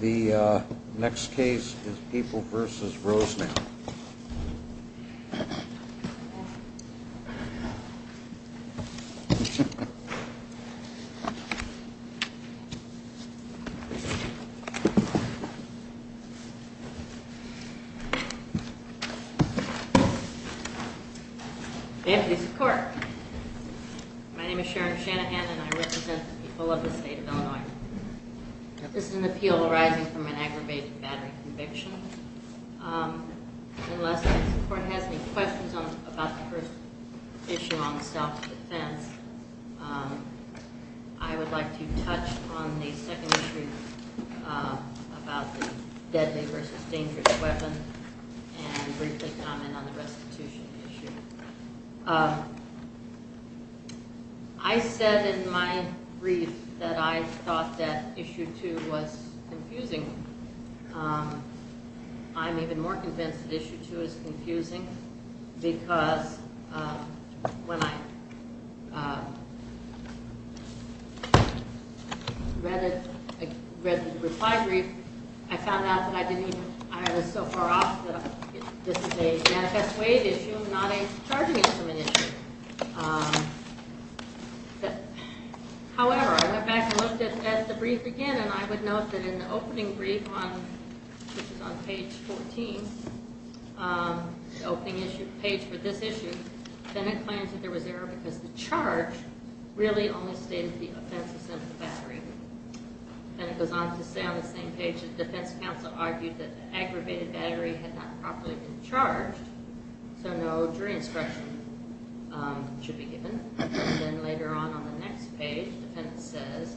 The next case is Papal v. Rosenow Sharon Shanahan I represent the people of the state of Illinois. This is an appeal arising from an aggravated battery conviction. Unless the court has any questions about the first issue on self-defense, I would like to touch on the second issue about the deadly v. dangerous weapon and briefly comment on the restitution issue. I said in my brief that I thought that issue 2 was confusing. I'm even more convinced that issue 2 is confusing because when I read the reply brief, I found out that I was so far off. This is a manifest waive issue, not a charging instrument issue. However, I went back and looked at the brief again and I would note that in the opening brief on page 14, the opening page for this issue, the defendant claims that there was error because the charge really only stated the offensive center of the battery. It goes on to say on the same page that the defense counsel argued that the aggravated battery had not properly been charged, so no jury instruction should be given. Then later on, on the next page, the defendant says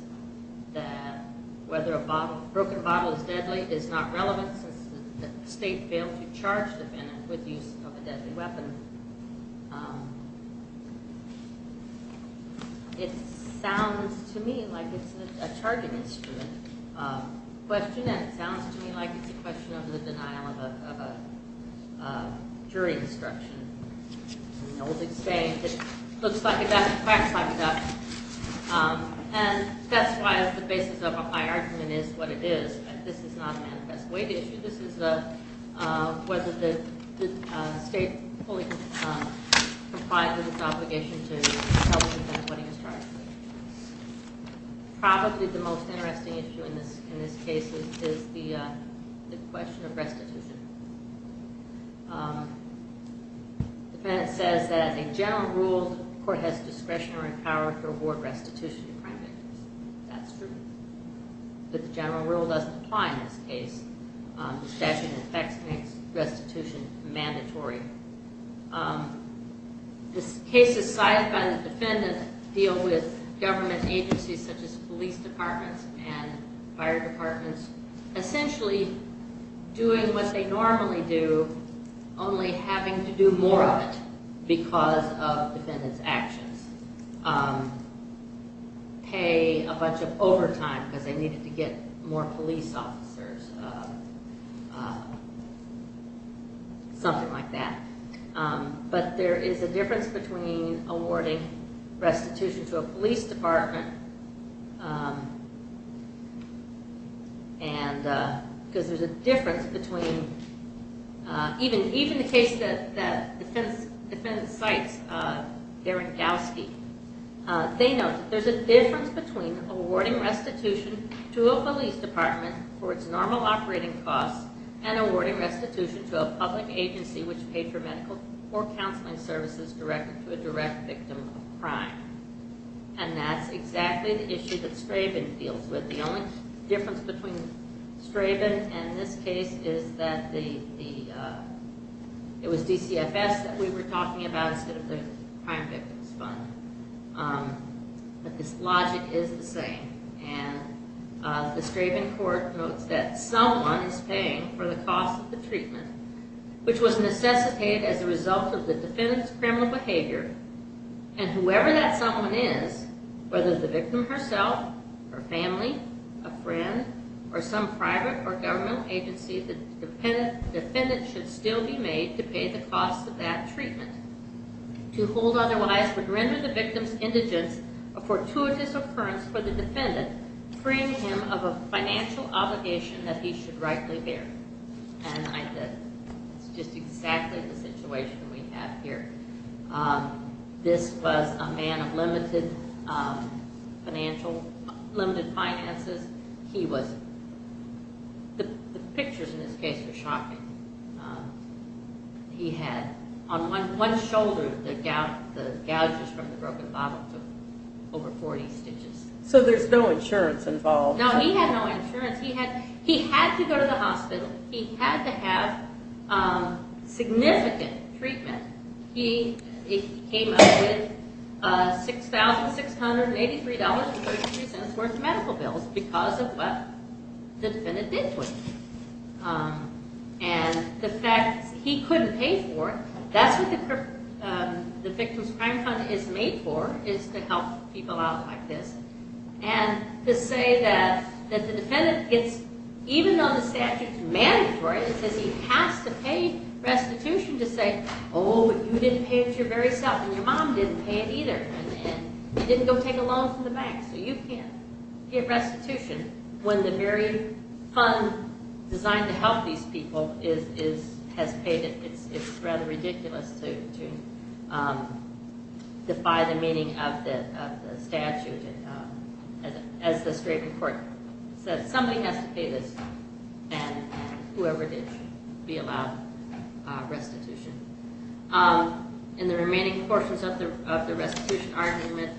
that whether a broken bottle is deadly is not relevant since the state failed to charge the defendant with the use of a deadly weapon. It sounds to me like it's a charging instrument question and it sounds to me like it's a question of the denial of a jury instruction. That's why the basis of my argument is what it is. This is not a manifest waive issue. This is whether the state fully complied with its obligation to help the defendant when he was charged. Probably the most interesting issue in this case is the question of restitution. The defendant says that a general rule, the court has discretion or power to award restitution to crime victims. That's true, but the general rule doesn't apply in this case. The statute of effects makes restitution mandatory. This case is sized by the defendant to deal with government agencies such as police departments and fire departments, essentially doing what they normally do, only having to do more of it because of the defendant's actions. They didn't have to pay a bunch of overtime because they needed to get more police officers, something like that. But there is a difference between awarding restitution to a police department, even the case that the defendant cites Deringowski. They note that there is a difference between awarding restitution to a police department for its normal operating costs and awarding restitution to a public agency which pays for medical or counseling services directed to a direct victim of a crime. And that's exactly the issue that Straben deals with. The only difference between Straben and this case is that it was DCFS that we were talking about instead of the Crime Victims Fund. But this logic is the same. The Straben court notes that someone is paying for the cost of the treatment, which was necessitated as a result of the defendant's criminal behavior. And whoever that someone is, whether the victim herself, her family, a friend, or some private or government agency, the defendant should still be made to pay the cost of that treatment. To hold otherwise would render the victim's indigence a fortuitous occurrence for the defendant, freeing him of a financial obligation that he should rightly bear. And that's just exactly the situation we have here. This was a man of limited financial, limited finances. He was, the pictures in this case were shocking. He had, on one shoulder, the gouges from the broken bottle took over 40 stitches. So there's no insurance involved. No, he had no insurance. He had to go to the hospital. He had to have significant treatment. He came up with $6,683.33 worth of medical bills because of what the defendant did to him. And the fact that he couldn't pay for it, that's what the Victim's Crime Fund is made for, is to help people out like this. And to say that the defendant gets, even though the statute's mandatory, it says he has to pay restitution to say, oh, you didn't pay it your very self, and your mom didn't pay it either, and you didn't go take a loan from the bank, so you can't get restitution. When the very fund designed to help these people has paid it, it's rather ridiculous to defy the meaning of the statute. As the strait in court says, somebody has to pay this, and whoever did should be allowed restitution. In the remaining portions of the restitution argument,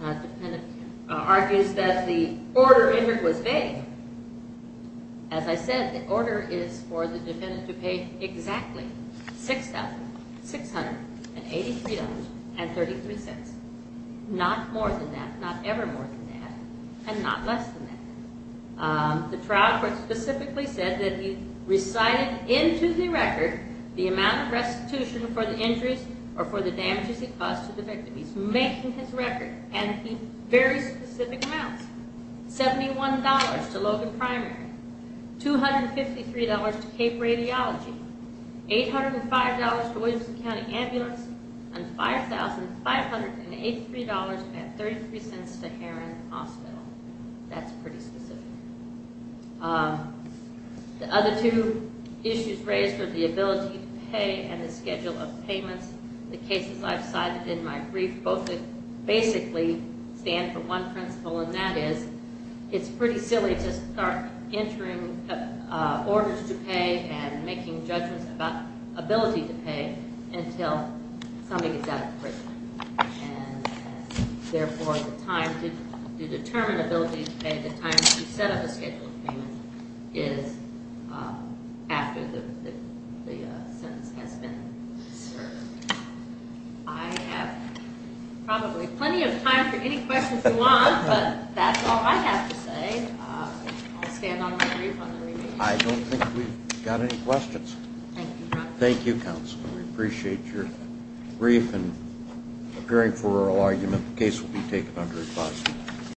the defendant argues that the order in here was vague. As I said, the order is for the defendant to pay exactly $6,683.33, not more than that, not ever more than that, and not less than that. The trial court specifically said that he recited into the record the amount of restitution for the injuries or for the damages he caused to the victim. He's making his record, and he's very specific amounts. $71 to Logan Primary, $253 to Cape Radiology, $805 to Williamson County Ambulance, and $5,583.33 to Heron Hospital. That's pretty specific. The other two issues raised were the ability to pay and the schedule of payments. The cases I've cited in my brief both basically stand for one principle, and that is it's pretty silly to start entering orders to pay and making judgments about ability to pay until somebody gets out of prison. Therefore, the time to determine ability to pay, the time to set up a schedule of payments, is after the sentence has been served. I have probably plenty of time for any questions you want, but that's all I have to say. I'll stand on my brief on the remaining issues. I don't think we've got any questions. Thank you, counsel. We appreciate your brief and appearing for oral argument. The case will be taken under advisory.